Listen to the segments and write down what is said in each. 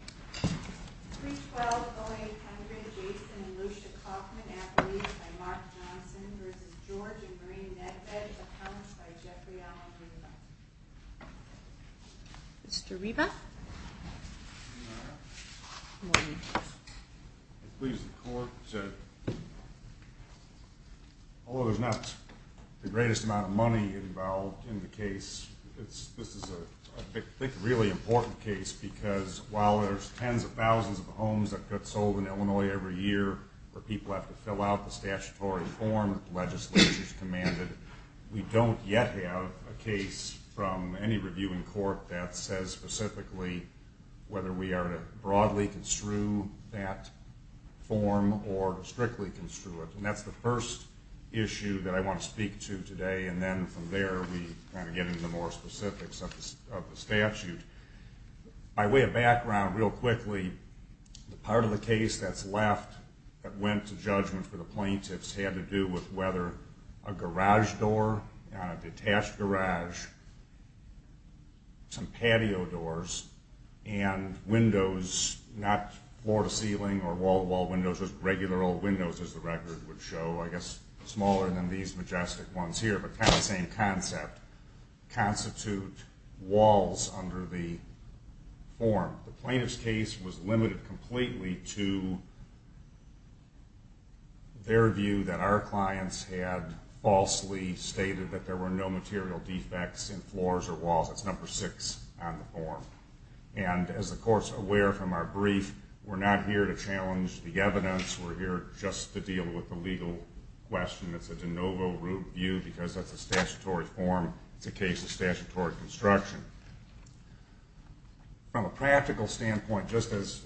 312-0800, Jason and Lucia Kalkman, affidavits by Mark Johnson v. George and Maureen Nedved, accounts by Jeffrey Allen Reba. Mr. Reba? Good morning. It pleases the Court, although there's not the greatest amount of money involved in the case, this is a really important case because while there's tens of thousands of homes that get sold in Illinois every year where people have to fill out the statutory form that the legislature has commanded, we don't yet have a case from any reviewing court that says specifically whether we are to broadly construe that form or strictly construe it. And that's the first issue that I want to speak to today, and then from there we kind of get into the more specifics of the statute. By way of background, real quickly, the part of the case that's left that went to judgment for the plaintiffs had to do with whether a garage door, a detached garage, some patio doors, and windows, not floor-to-ceiling or wall-to-wall windows, just regular old windows as the record would show, I guess smaller than these majestic ones here, but kind of the same concept, constitute walls under the form. The plaintiff's case was limited completely to their view that our clients had falsely stated that there were no material defects in floors or walls. That's number six on the form. And as the court's aware from our brief, we're not here to challenge the evidence. We're here just to deal with the legal question. It's a de novo review because that's a statutory form. It's a case of statutory construction. From a practical standpoint, just as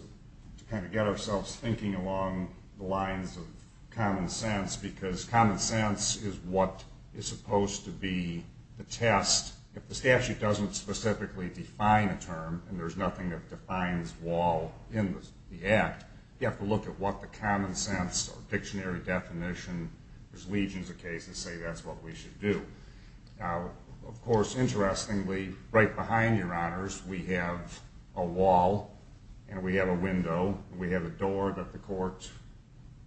to kind of get ourselves thinking along the lines of common sense, because common sense is what is supposed to be the test. If the statute doesn't specifically define a term and there's nothing that defines wall in the act, you have to look at what the common sense or dictionary definition, as legions of cases say, that's what we should do. Now, of course, interestingly, right behind your honors, we have a wall and we have a window. We have a door that the court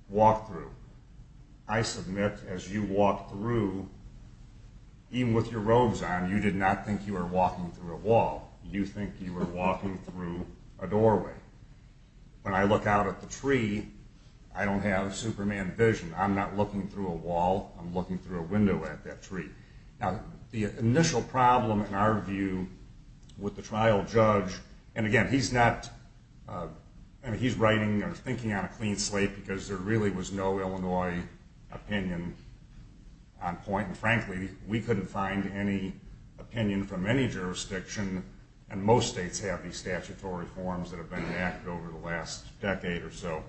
walked through. I submit as you walked through, even with your robes on, you did not think you were walking through a wall. You think you were walking through a doorway. When I look out at the tree, I don't have Superman vision. I'm not looking through a wall. I'm looking through a window at that tree. The initial problem, in our view, with the trial judge, and again, he's writing or thinking on a clean slate because there really was no Illinois opinion on point. And frankly, we couldn't find any opinion from any jurisdiction, and most states have these statutory forms that have been enacted over the last decade or so.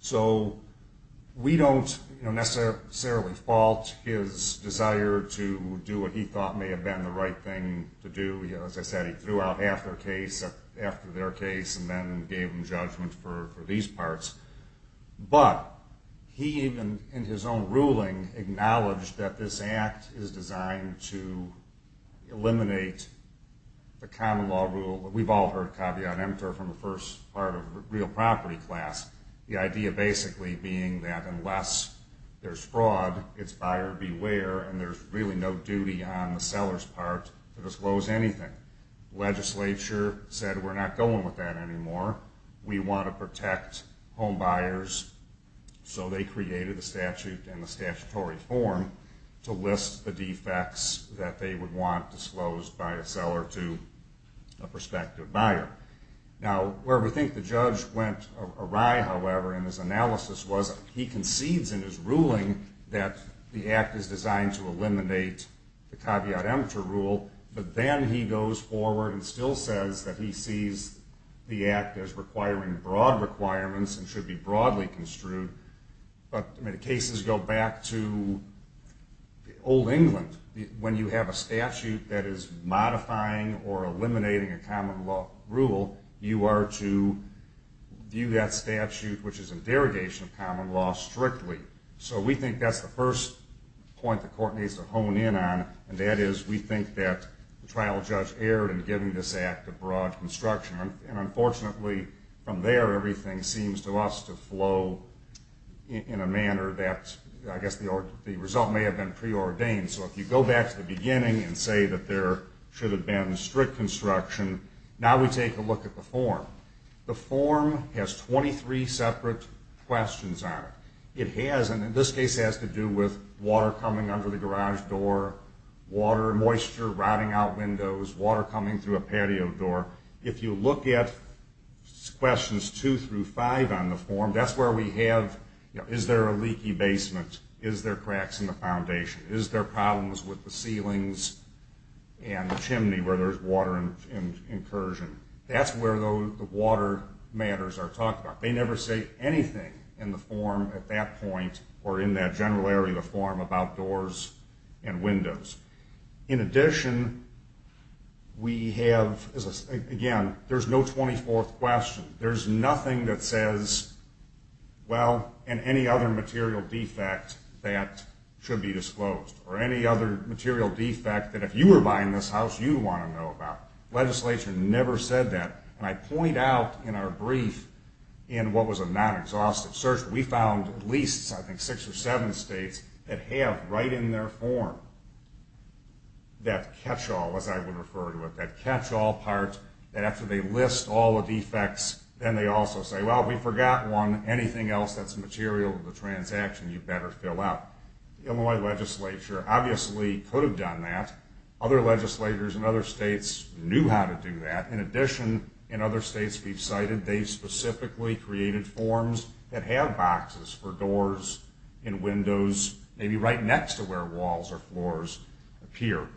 So we don't necessarily fault his desire to do what he thought may have been the right thing to do. As I said, he threw out half their case after their case and then gave them judgment for these parts. But he even, in his own ruling, acknowledged that this act is designed to eliminate the common law rule. We've all heard caveat emptor from the first part of real property class, the idea basically being that unless there's fraud, it's buyer beware, and there's really no duty on the seller's part to disclose anything. Legislature said, we're not going with that anymore. We want to protect homebuyers, so they created a statute and a statutory form to list the defects that they would want disclosed by a seller to a prospective buyer. Now, where we think the judge went awry, however, in his analysis, was he concedes in his ruling that the act is designed to eliminate the caveat emptor rule, but then he goes forward and still says that he sees the act as requiring broad requirements and should be broadly construed. But the cases go back to old England. When you have a statute that is modifying or eliminating a common law rule, you are to view that statute, which is a derogation of common law, strictly. So we think that's the first point the court needs to hone in on, and that is we think that the trial judge erred in giving this act a broad construction. And unfortunately, from there, everything seems to us to flow in a manner that, I guess the result may have been preordained. So if you go back to the beginning and say that there should have been strict construction, now we take a look at the form. The form has 23 separate questions on it. It has, and this case has to do with water coming under the garage door, water and moisture rotting out windows, water coming through a patio door. If you look at questions 2 through 5 on the form, that's where we have, you know, is there a leaky basement, is there cracks in the foundation, is there problems with the ceilings and the chimney where there's water incursion. That's where the water matters are talked about. They never say anything in the form at that point or in that general area of the form about doors and windows. In addition, we have, again, there's no 24th question. There's nothing that says, well, and any other material defect that should be disclosed or any other material defect that if you were buying this house, you'd want to know about. Legislation never said that. And I point out in our brief in what was a non-exhaustive search, we found at least, I think, six or seven states that have right in their form that catch-all, as I would refer to it, that catch-all part that after they list all the defects, then they also say, well, we forgot one. Anything else that's material to the transaction, you better fill out. The Illinois legislature obviously could have done that. Other legislators in other states knew how to do that. In addition, in other states we've cited, they specifically created forms that have boxes for doors and windows, maybe right next to where walls or floors appear.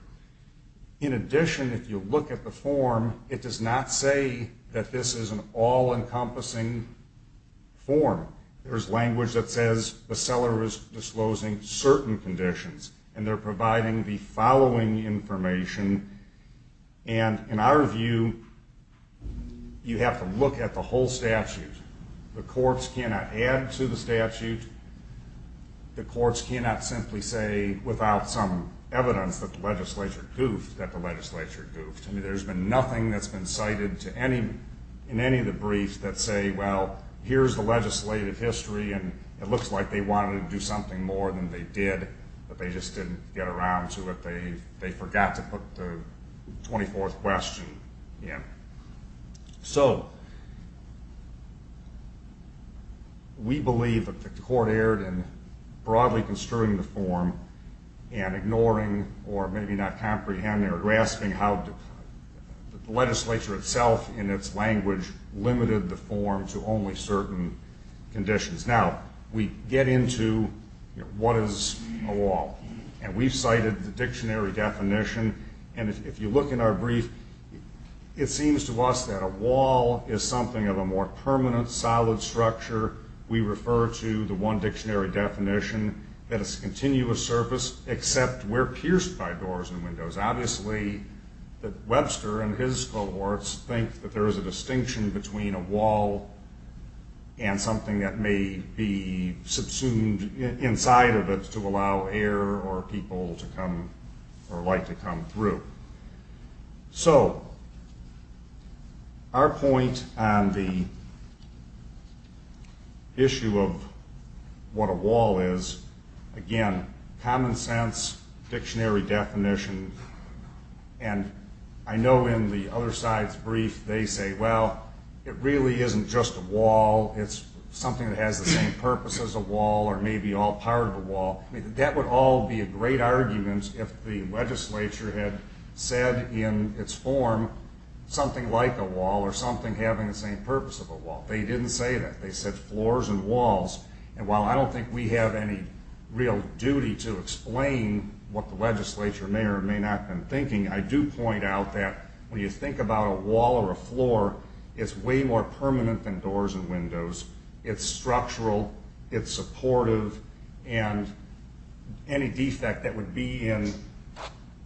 In addition, if you look at the form, it does not say that this is an all-encompassing form. There's language that says the seller is disclosing certain conditions, and they're providing the following information. And in our view, you have to look at the whole statute. The courts cannot add to the statute. The courts cannot simply say without some evidence that the legislature goofed that the legislature goofed. I mean, there's been nothing that's been cited in any of the briefs that say, well, here's the legislative history, and it looks like they wanted to do something more than they did, but they just didn't get around to it. They forgot to put the 24th question in. So we believe that the court erred in broadly construing the form and ignoring or maybe not comprehending or grasping how the legislature itself in its language limited the form to only certain conditions. And we've cited the dictionary definition, and if you look in our brief, it seems to us that a wall is something of a more permanent, solid structure. We refer to the one dictionary definition that it's a continuous surface, except we're pierced by doors and windows. Obviously, Webster and his cohorts think that there is a distinction between a wall and something that may be subsumed inside of it to allow air or people to come or light to come through. So our point on the issue of what a wall is, again, common sense, dictionary definition, and I know in the other side's brief they say, well, it really isn't just a wall. It's something that has the same purpose as a wall or maybe all part of a wall. That would all be a great argument if the legislature had said in its form something like a wall or something having the same purpose of a wall. They didn't say that. They said floors and walls. And while I don't think we have any real duty to explain what the legislature may or may not have been thinking, I do point out that when you think about a wall or a floor, it's way more permanent than doors and windows. It's structural. It's supportive. And any defect that would be in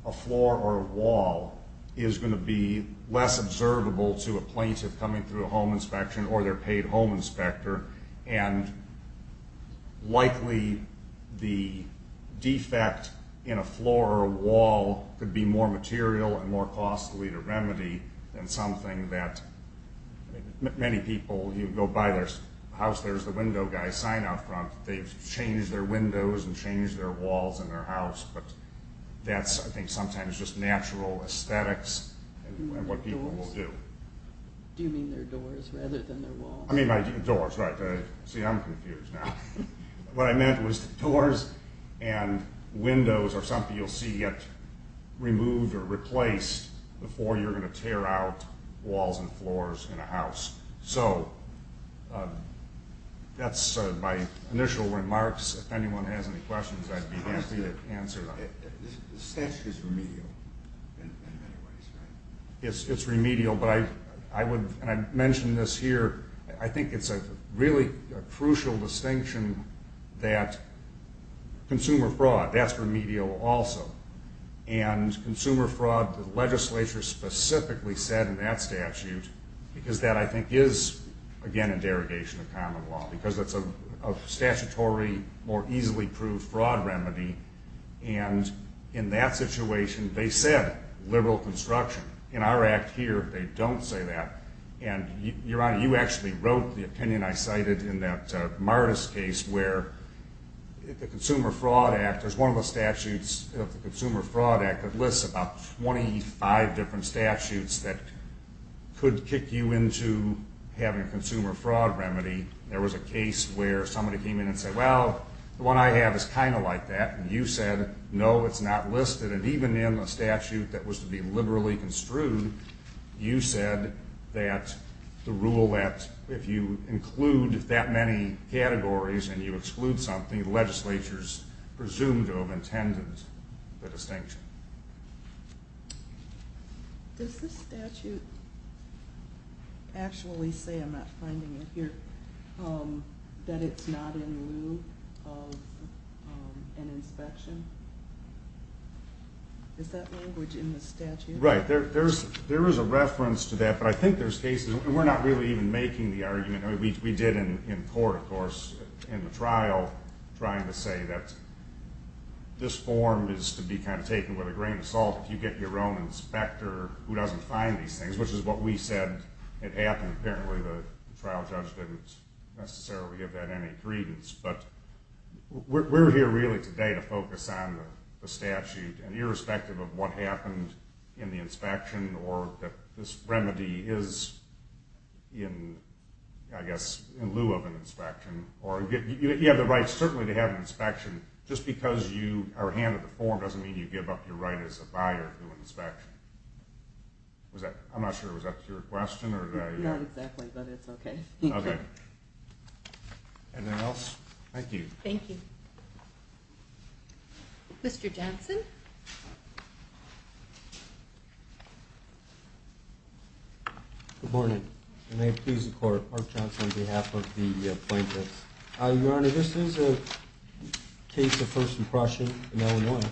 a floor or a wall is going to be less observable to a plaintiff coming through a home inspection or their paid home inspector, and likely the defect in a floor or a wall could be more material and more costly to remedy than something that many people, you go by their house, there's the window guy sign out front. They've changed their windows and changed their walls in their house, but that's, I think, sometimes just natural aesthetics and what people will do. Do you mean their doors rather than their walls? I mean doors, right. See, I'm confused now. What I meant was doors and windows are something you'll see get removed or replaced before you're going to tear out walls and floors in a house. So that's my initial remarks. If anyone has any questions, I'd be happy to answer them. The statute is remedial in many ways, right? It's remedial. And I mentioned this here. I think it's a really crucial distinction that consumer fraud, that's remedial also. And consumer fraud, the legislature specifically said in that statute, because that, I think, is, again, a derogation of common law because it's a statutory, more easily proved fraud remedy. And in that situation, they said liberal construction. In our act here, they don't say that. And, Your Honor, you actually wrote the opinion I cited in that Martis case where the Consumer Fraud Act, there's one of the statutes of the Consumer Fraud Act that lists about 25 different statutes that could kick you into having a consumer fraud remedy. There was a case where somebody came in and said, Well, the one I have is kind of like that. And you said, No, it's not listed. You said that even in a statute that was to be liberally construed, you said that the rule that if you include that many categories and you exclude something, the legislature is presumed to have intended the distinction. Does the statute actually say, I'm not finding it here, that it's not in lieu of an inspection? Is that language in the statute? Right. There is a reference to that, but I think there's cases, and we're not really even making the argument, we did in court, of course, in the trial trying to say that this form is to be kind of taken with a grain of salt. If you get your own inspector who doesn't find these things, which is what we said had happened, apparently the trial judge didn't necessarily give that any credence. But we're here really today to focus on the statute, and irrespective of what happened in the inspection or that this remedy is in, I guess, in lieu of an inspection, you have the right certainly to have an inspection. Just because you are handed the form doesn't mean you give up your right as a buyer to an inspection. I'm not sure, was that your question? Not exactly, but it's okay. Okay. Anything else? Thank you. Thank you. Mr. Johnson? Good morning, and may it please the Court. Mark Johnson on behalf of the plaintiffs. Your Honor, this is a case of first impression in Illinois.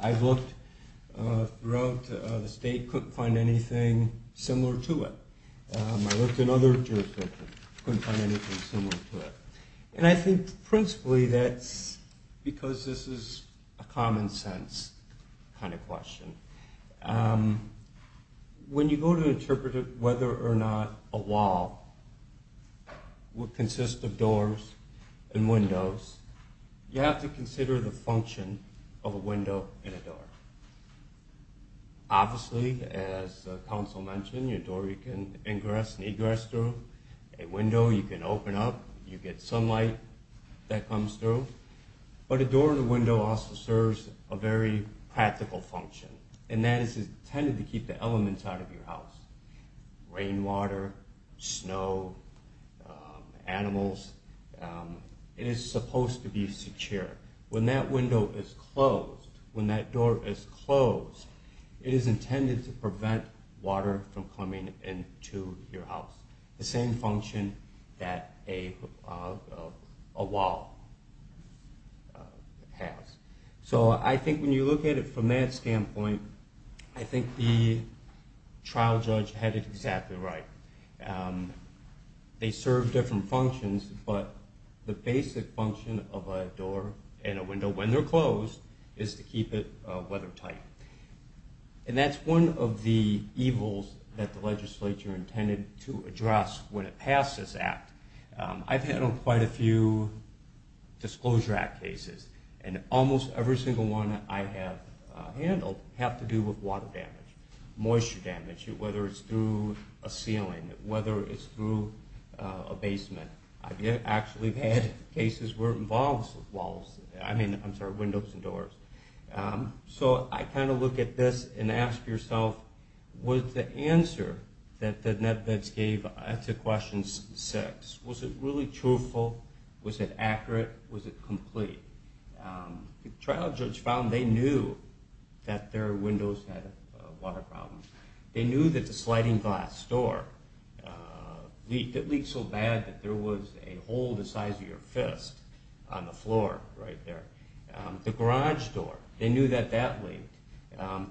I've looked throughout the state, couldn't find anything similar to it. I looked in other jurisdictions, couldn't find anything similar to it. And I think principally that's because this is a common sense kind of question. When you go to interpret whether or not a wall would consist of doors and windows, you have to consider the function of a window and a door. Obviously, as counsel mentioned, a door you can ingress and egress through, a window you can open up, you get sunlight that comes through. But a door and a window also serves a very practical function, and that is intended to keep the elements out of your house. Rainwater, snow, animals. It is supposed to be secure. When that window is closed, when that door is closed, it is intended to prevent water from coming into your house. The same function that a wall has. So I think when you look at it from that standpoint, I think the trial judge had it exactly right. They serve different functions, but the basic function of a door and a window, when they're closed, is to keep it weathertight. And that's one of the evils that the legislature intended to address when it passed this act. I've handled quite a few Disclosure Act cases, and almost every single one I have handled have to do with water damage, moisture damage, whether it's through a ceiling, whether it's through a basement. I've actually had cases where it involves walls. I mean, I'm sorry, windows and doors. So I kind of look at this and ask yourself, was the answer that the Netflix gave to question six, was it really truthful, was it accurate, was it complete? The trial judge found they knew that their windows had water problems. They knew that the sliding glass door leaked so bad that there was a hole the size of your fist on the floor right there. The garage door, they knew that that leaked.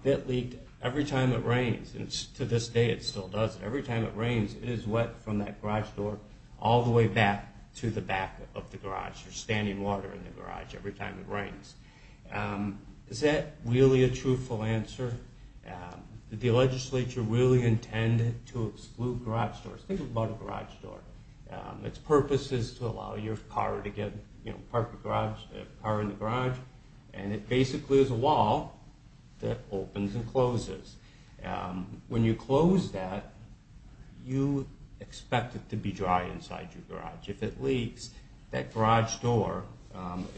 That leaked every time it rains, and to this day it still does. Every time it rains, it is wet from that garage door all the way back to the back of the garage. There's standing water in the garage every time it rains. Is that really a truthful answer? Did the legislature really intend to exclude garage doors? Think about a garage door. Its purpose is to allow your car to get, you know, park the car in the garage, and it basically is a wall that opens and closes. When you close that, you expect it to be dry inside your garage. If it leaks, that garage door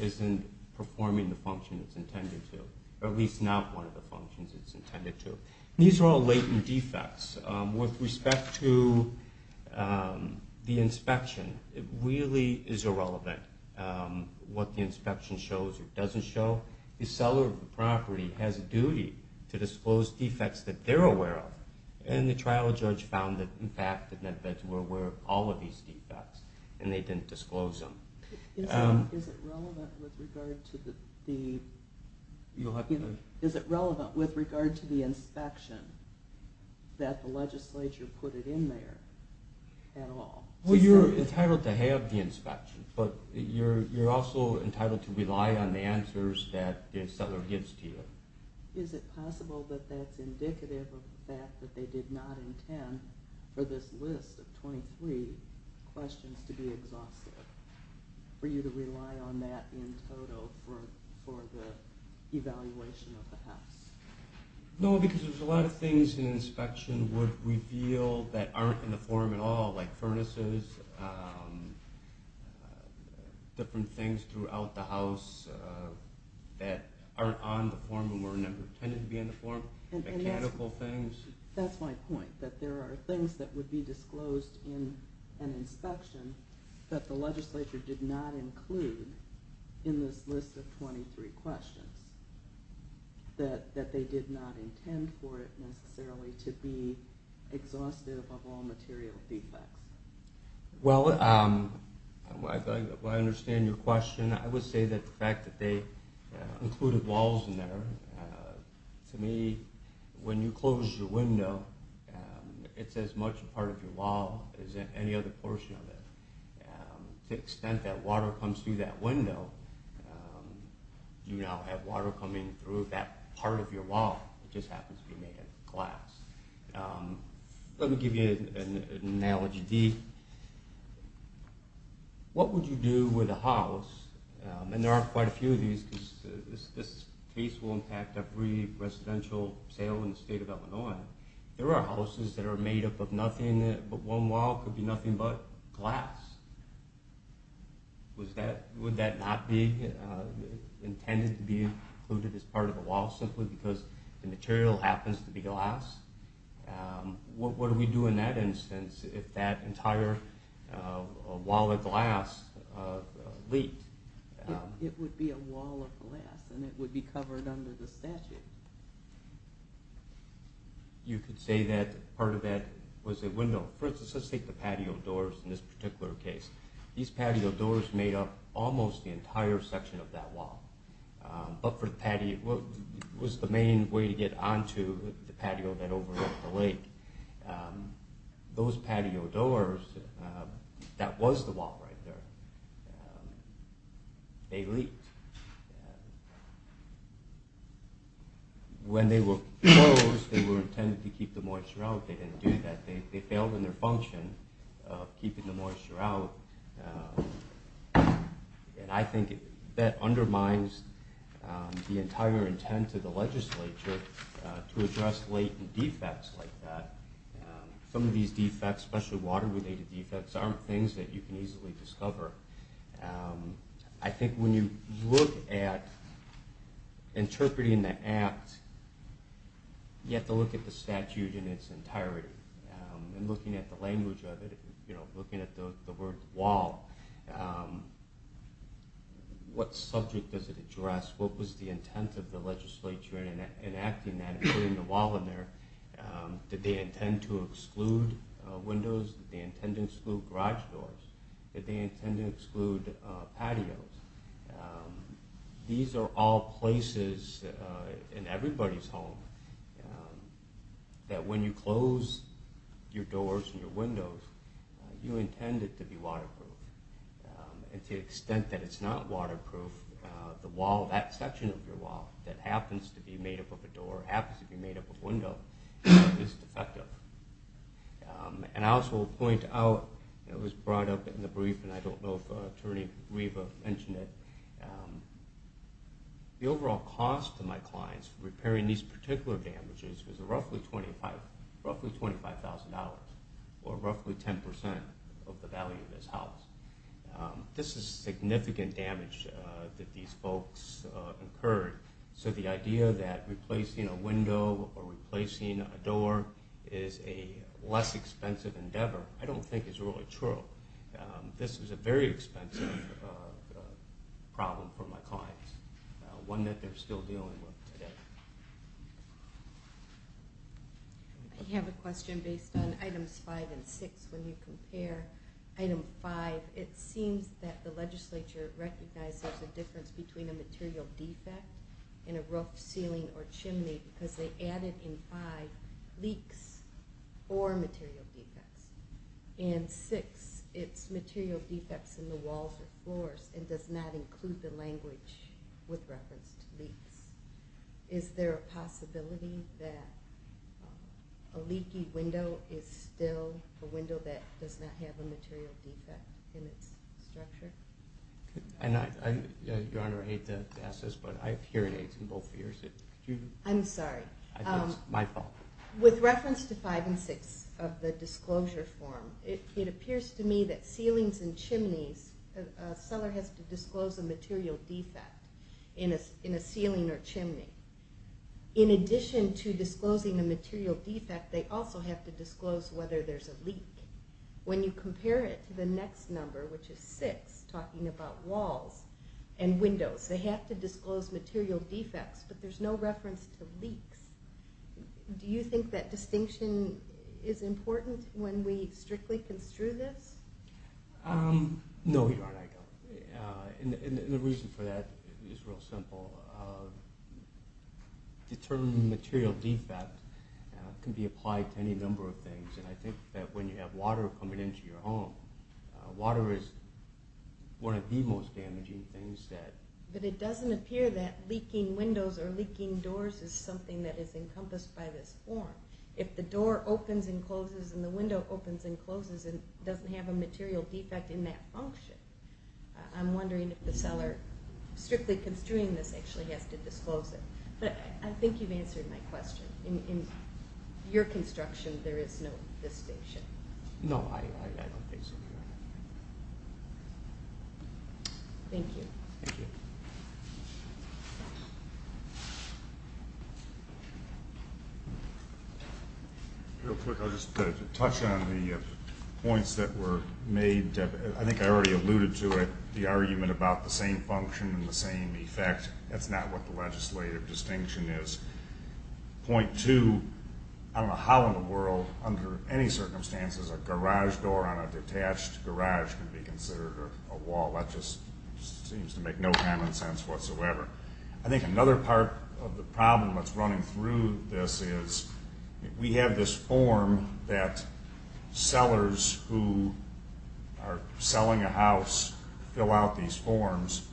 isn't performing the function it's intended to, or at least not one of the functions it's intended to. These are all latent defects. With respect to the inspection, it really is irrelevant what the inspection shows or doesn't show. The seller of the property has a duty to disclose defects that they're aware of, and the trial judge found that, in fact, the medevacs were aware of all of these defects, and they didn't disclose them. Is it relevant with regard to the inspection that the legislature put it in there at all? Well, you're entitled to have the inspection, but you're also entitled to rely on the answers that the seller gives to you. Is it possible that that's indicative of the fact that they did not intend for this list of 23 questions to be exhaustive, for you to rely on that in total for the evaluation of the house? No, because there's a lot of things in the inspection that would reveal that aren't in the form at all, like furnaces, different things throughout the house that aren't on the form and were never intended to be on the form, mechanical things. That's my point, that there are things that would be disclosed in an inspection that the legislature did not include in this list of 23 questions, that they did not intend for it necessarily to be exhaustive of all material defects. Well, I understand your question. I would say that the fact that they included walls in there, to me, when you close your window, it's as much a part of your wall as any other portion of it. To the extent that water comes through that window, you now have water coming through that part of your wall. It just happens to be made of glass. Let me give you an analogy. What would you do with a house, and there are quite a few of these, because this case will impact every residential sale in the state of Illinois. There are houses that are made up of nothing, but one wall could be nothing but glass. Would that not be intended to be included as part of a wall simply because the material happens to be glass? What would we do in that instance if that entire wall of glass leaked? It would be a wall of glass, and it would be covered under the statute. You could say that part of that was a window. For instance, let's take the patio doors in this particular case. These patio doors made up almost the entire section of that wall, but it was the main way to get onto the patio that overlooked the lake. Those patio doors, that was the wall right there. They leaked. When they were closed, they were intended to keep the moisture out. They didn't do that. They failed in their function of keeping the moisture out. I think that undermines the entire intent of the legislature to address latent defects like that. Some of these defects, especially water-related defects, aren't things that you can easily discover. I think when you look at interpreting the act, you have to look at the statute in its entirety. Looking at the language of it, looking at the word wall, what subject does it address? What was the intent of the legislature in enacting that and putting the wall in there? Did they intend to exclude windows? Did they intend to exclude garage doors? Did they intend to exclude patios? These are all places in everybody's home that when you close your doors and your windows, you intend it to be waterproof. To the extent that it's not waterproof, that section of your wall that happens to be made up of a door, happens to be made up of a window, is defective. I also will point out, it was brought up in the brief, and I don't know if Attorney Riva mentioned it. The overall cost to my clients repairing these particular damages was roughly $25,000, or roughly 10% of the value of this house. This is significant damage that these folks incurred. So the idea that replacing a window or replacing a door is a less expensive endeavor, I don't think is really true. This is a very expensive problem for my clients, one that they're still dealing with today. I have a question based on Items 5 and 6. When you compare Item 5, it seems that the legislature recognized there's a difference between a material defect in a roof, ceiling, or chimney because they added in 5 leaks or material defects. And 6, it's material defects in the walls or floors and does not include the language with reference to leaks. Is there a possibility that a leaky window is still a window that does not have a material defect in its structure? Your Honor, I hate to ask this, but I have hearing aids in both ears. I'm sorry. It's my fault. With reference to 5 and 6 of the disclosure form, it appears to me that ceilings and chimneys, a seller has to disclose a material defect in a ceiling or chimney. In addition to disclosing a material defect, they also have to disclose whether there's a leak. When you compare it to the next number, which is 6, talking about walls and windows, they have to disclose material defects, but there's no reference to leaks. Do you think that distinction is important when we strictly construe this? No, Your Honor, I don't. And the reason for that is real simple. Determining a material defect can be applied to any number of things, and I think that when you have water coming into your home, water is one of the most damaging things that... But it doesn't appear that leaking windows or leaking doors is something that is encompassed by this form. If the door opens and closes and the window opens and closes and doesn't have a material defect in that function, I'm wondering if the seller, strictly construing this, actually has to disclose it. But I think you've answered my question. In your construction, there is no distinction. No, I don't think so, Your Honor. Thank you. Thank you. Real quick, I'll just touch on the points that were made. I think I already alluded to it, the argument about the same function and the same effect. That's not what the legislative distinction is. Point two, I don't know how in the world, under any circumstances, a garage door on a detached garage can be considered a wall. That just seems to make no common sense whatsoever. I think another part of the problem that's running through this is we have this form that sellers who are selling a house fill out these forms.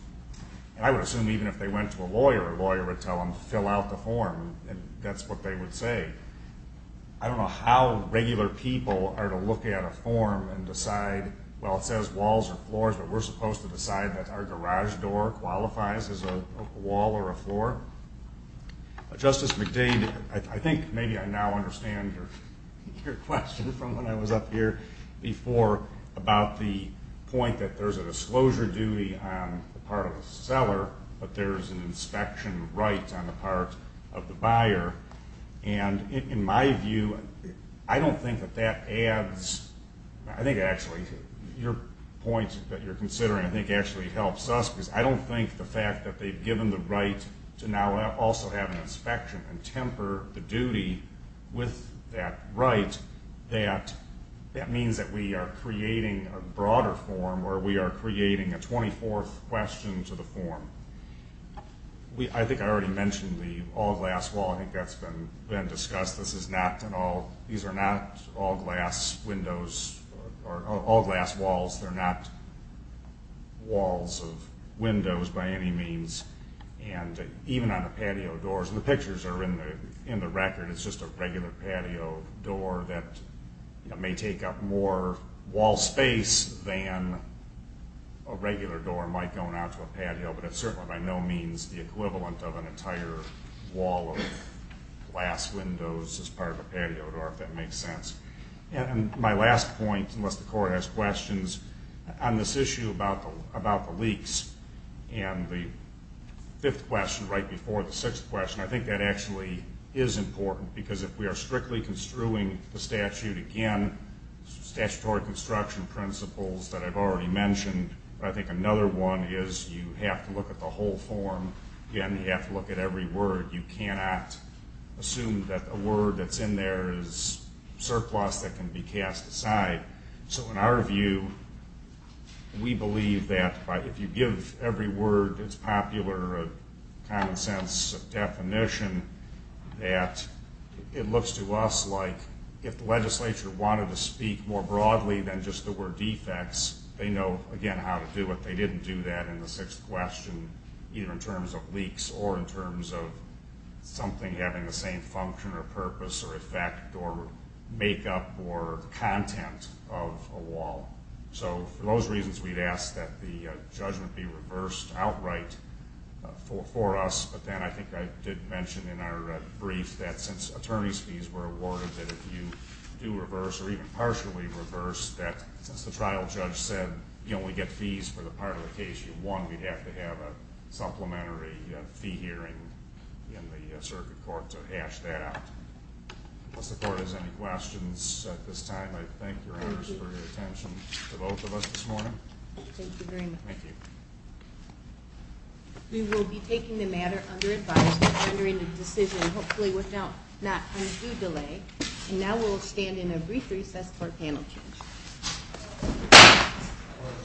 And I would assume even if they went to a lawyer, a lawyer would tell them to fill out the form, and that's what they would say. I don't know how regular people are to look at a form and decide, well, it says walls or floors, but we're supposed to decide that our garage door qualifies as a wall or a floor. Justice McDade, I think maybe I now understand your question from when I was up here before about the point that there's a disclosure duty on the part of the seller, but there's an inspection right on the part of the buyer. And in my view, I don't think that that adds, I think actually your point that you're considering, I think, actually helps us because I don't think the fact that they've given the right to now also have an inspection and temper the duty with that right, that means that we are creating a broader form where we are creating a 24th question to the form. I think I already mentioned the all-glass wall. I think that's been discussed. These are not all-glass windows or all-glass walls. They're not walls of windows by any means. And even on the patio doors, and the pictures are in the record, it's just a regular patio door that may take up more wall space than a regular door might going out to a patio, but it's certainly by no means the equivalent of an entire wall of glass windows as part of a patio door, if that makes sense. And my last point, unless the Court has questions, on this issue about the leaks and the fifth question right before the sixth question, I think that actually is important, because if we are strictly construing the statute, again, statutory construction principles that I've already mentioned, I think another one is you have to look at the whole form, you have to look at every word. You cannot assume that a word that's in there is surplus that can be cast aside. So in our view, we believe that if you give every word its popular common-sense definition, that it looks to us like if the legislature wanted to speak more broadly than just the word defects, they know, again, how to do it. They didn't do that in the sixth question, either in terms of leaks or in terms of something having the same function or purpose or effect or makeup or content of a wall. So for those reasons, we'd ask that the judgment be reversed outright for us. But then I think I did mention in our brief that since attorney's fees were awarded, that if you do reverse or even partially reverse that, since the trial judge said you only get fees for the part of the case you won, we'd have to have a supplementary fee hearing in the circuit court to hash that out. Unless the court has any questions at this time, I thank your honors for your attention to both of us this morning. Thank you very much. Thank you. We will be taking the matter under advice and rendering a decision, hopefully without any due delay. And now we'll stand in a brief recess for a panel change.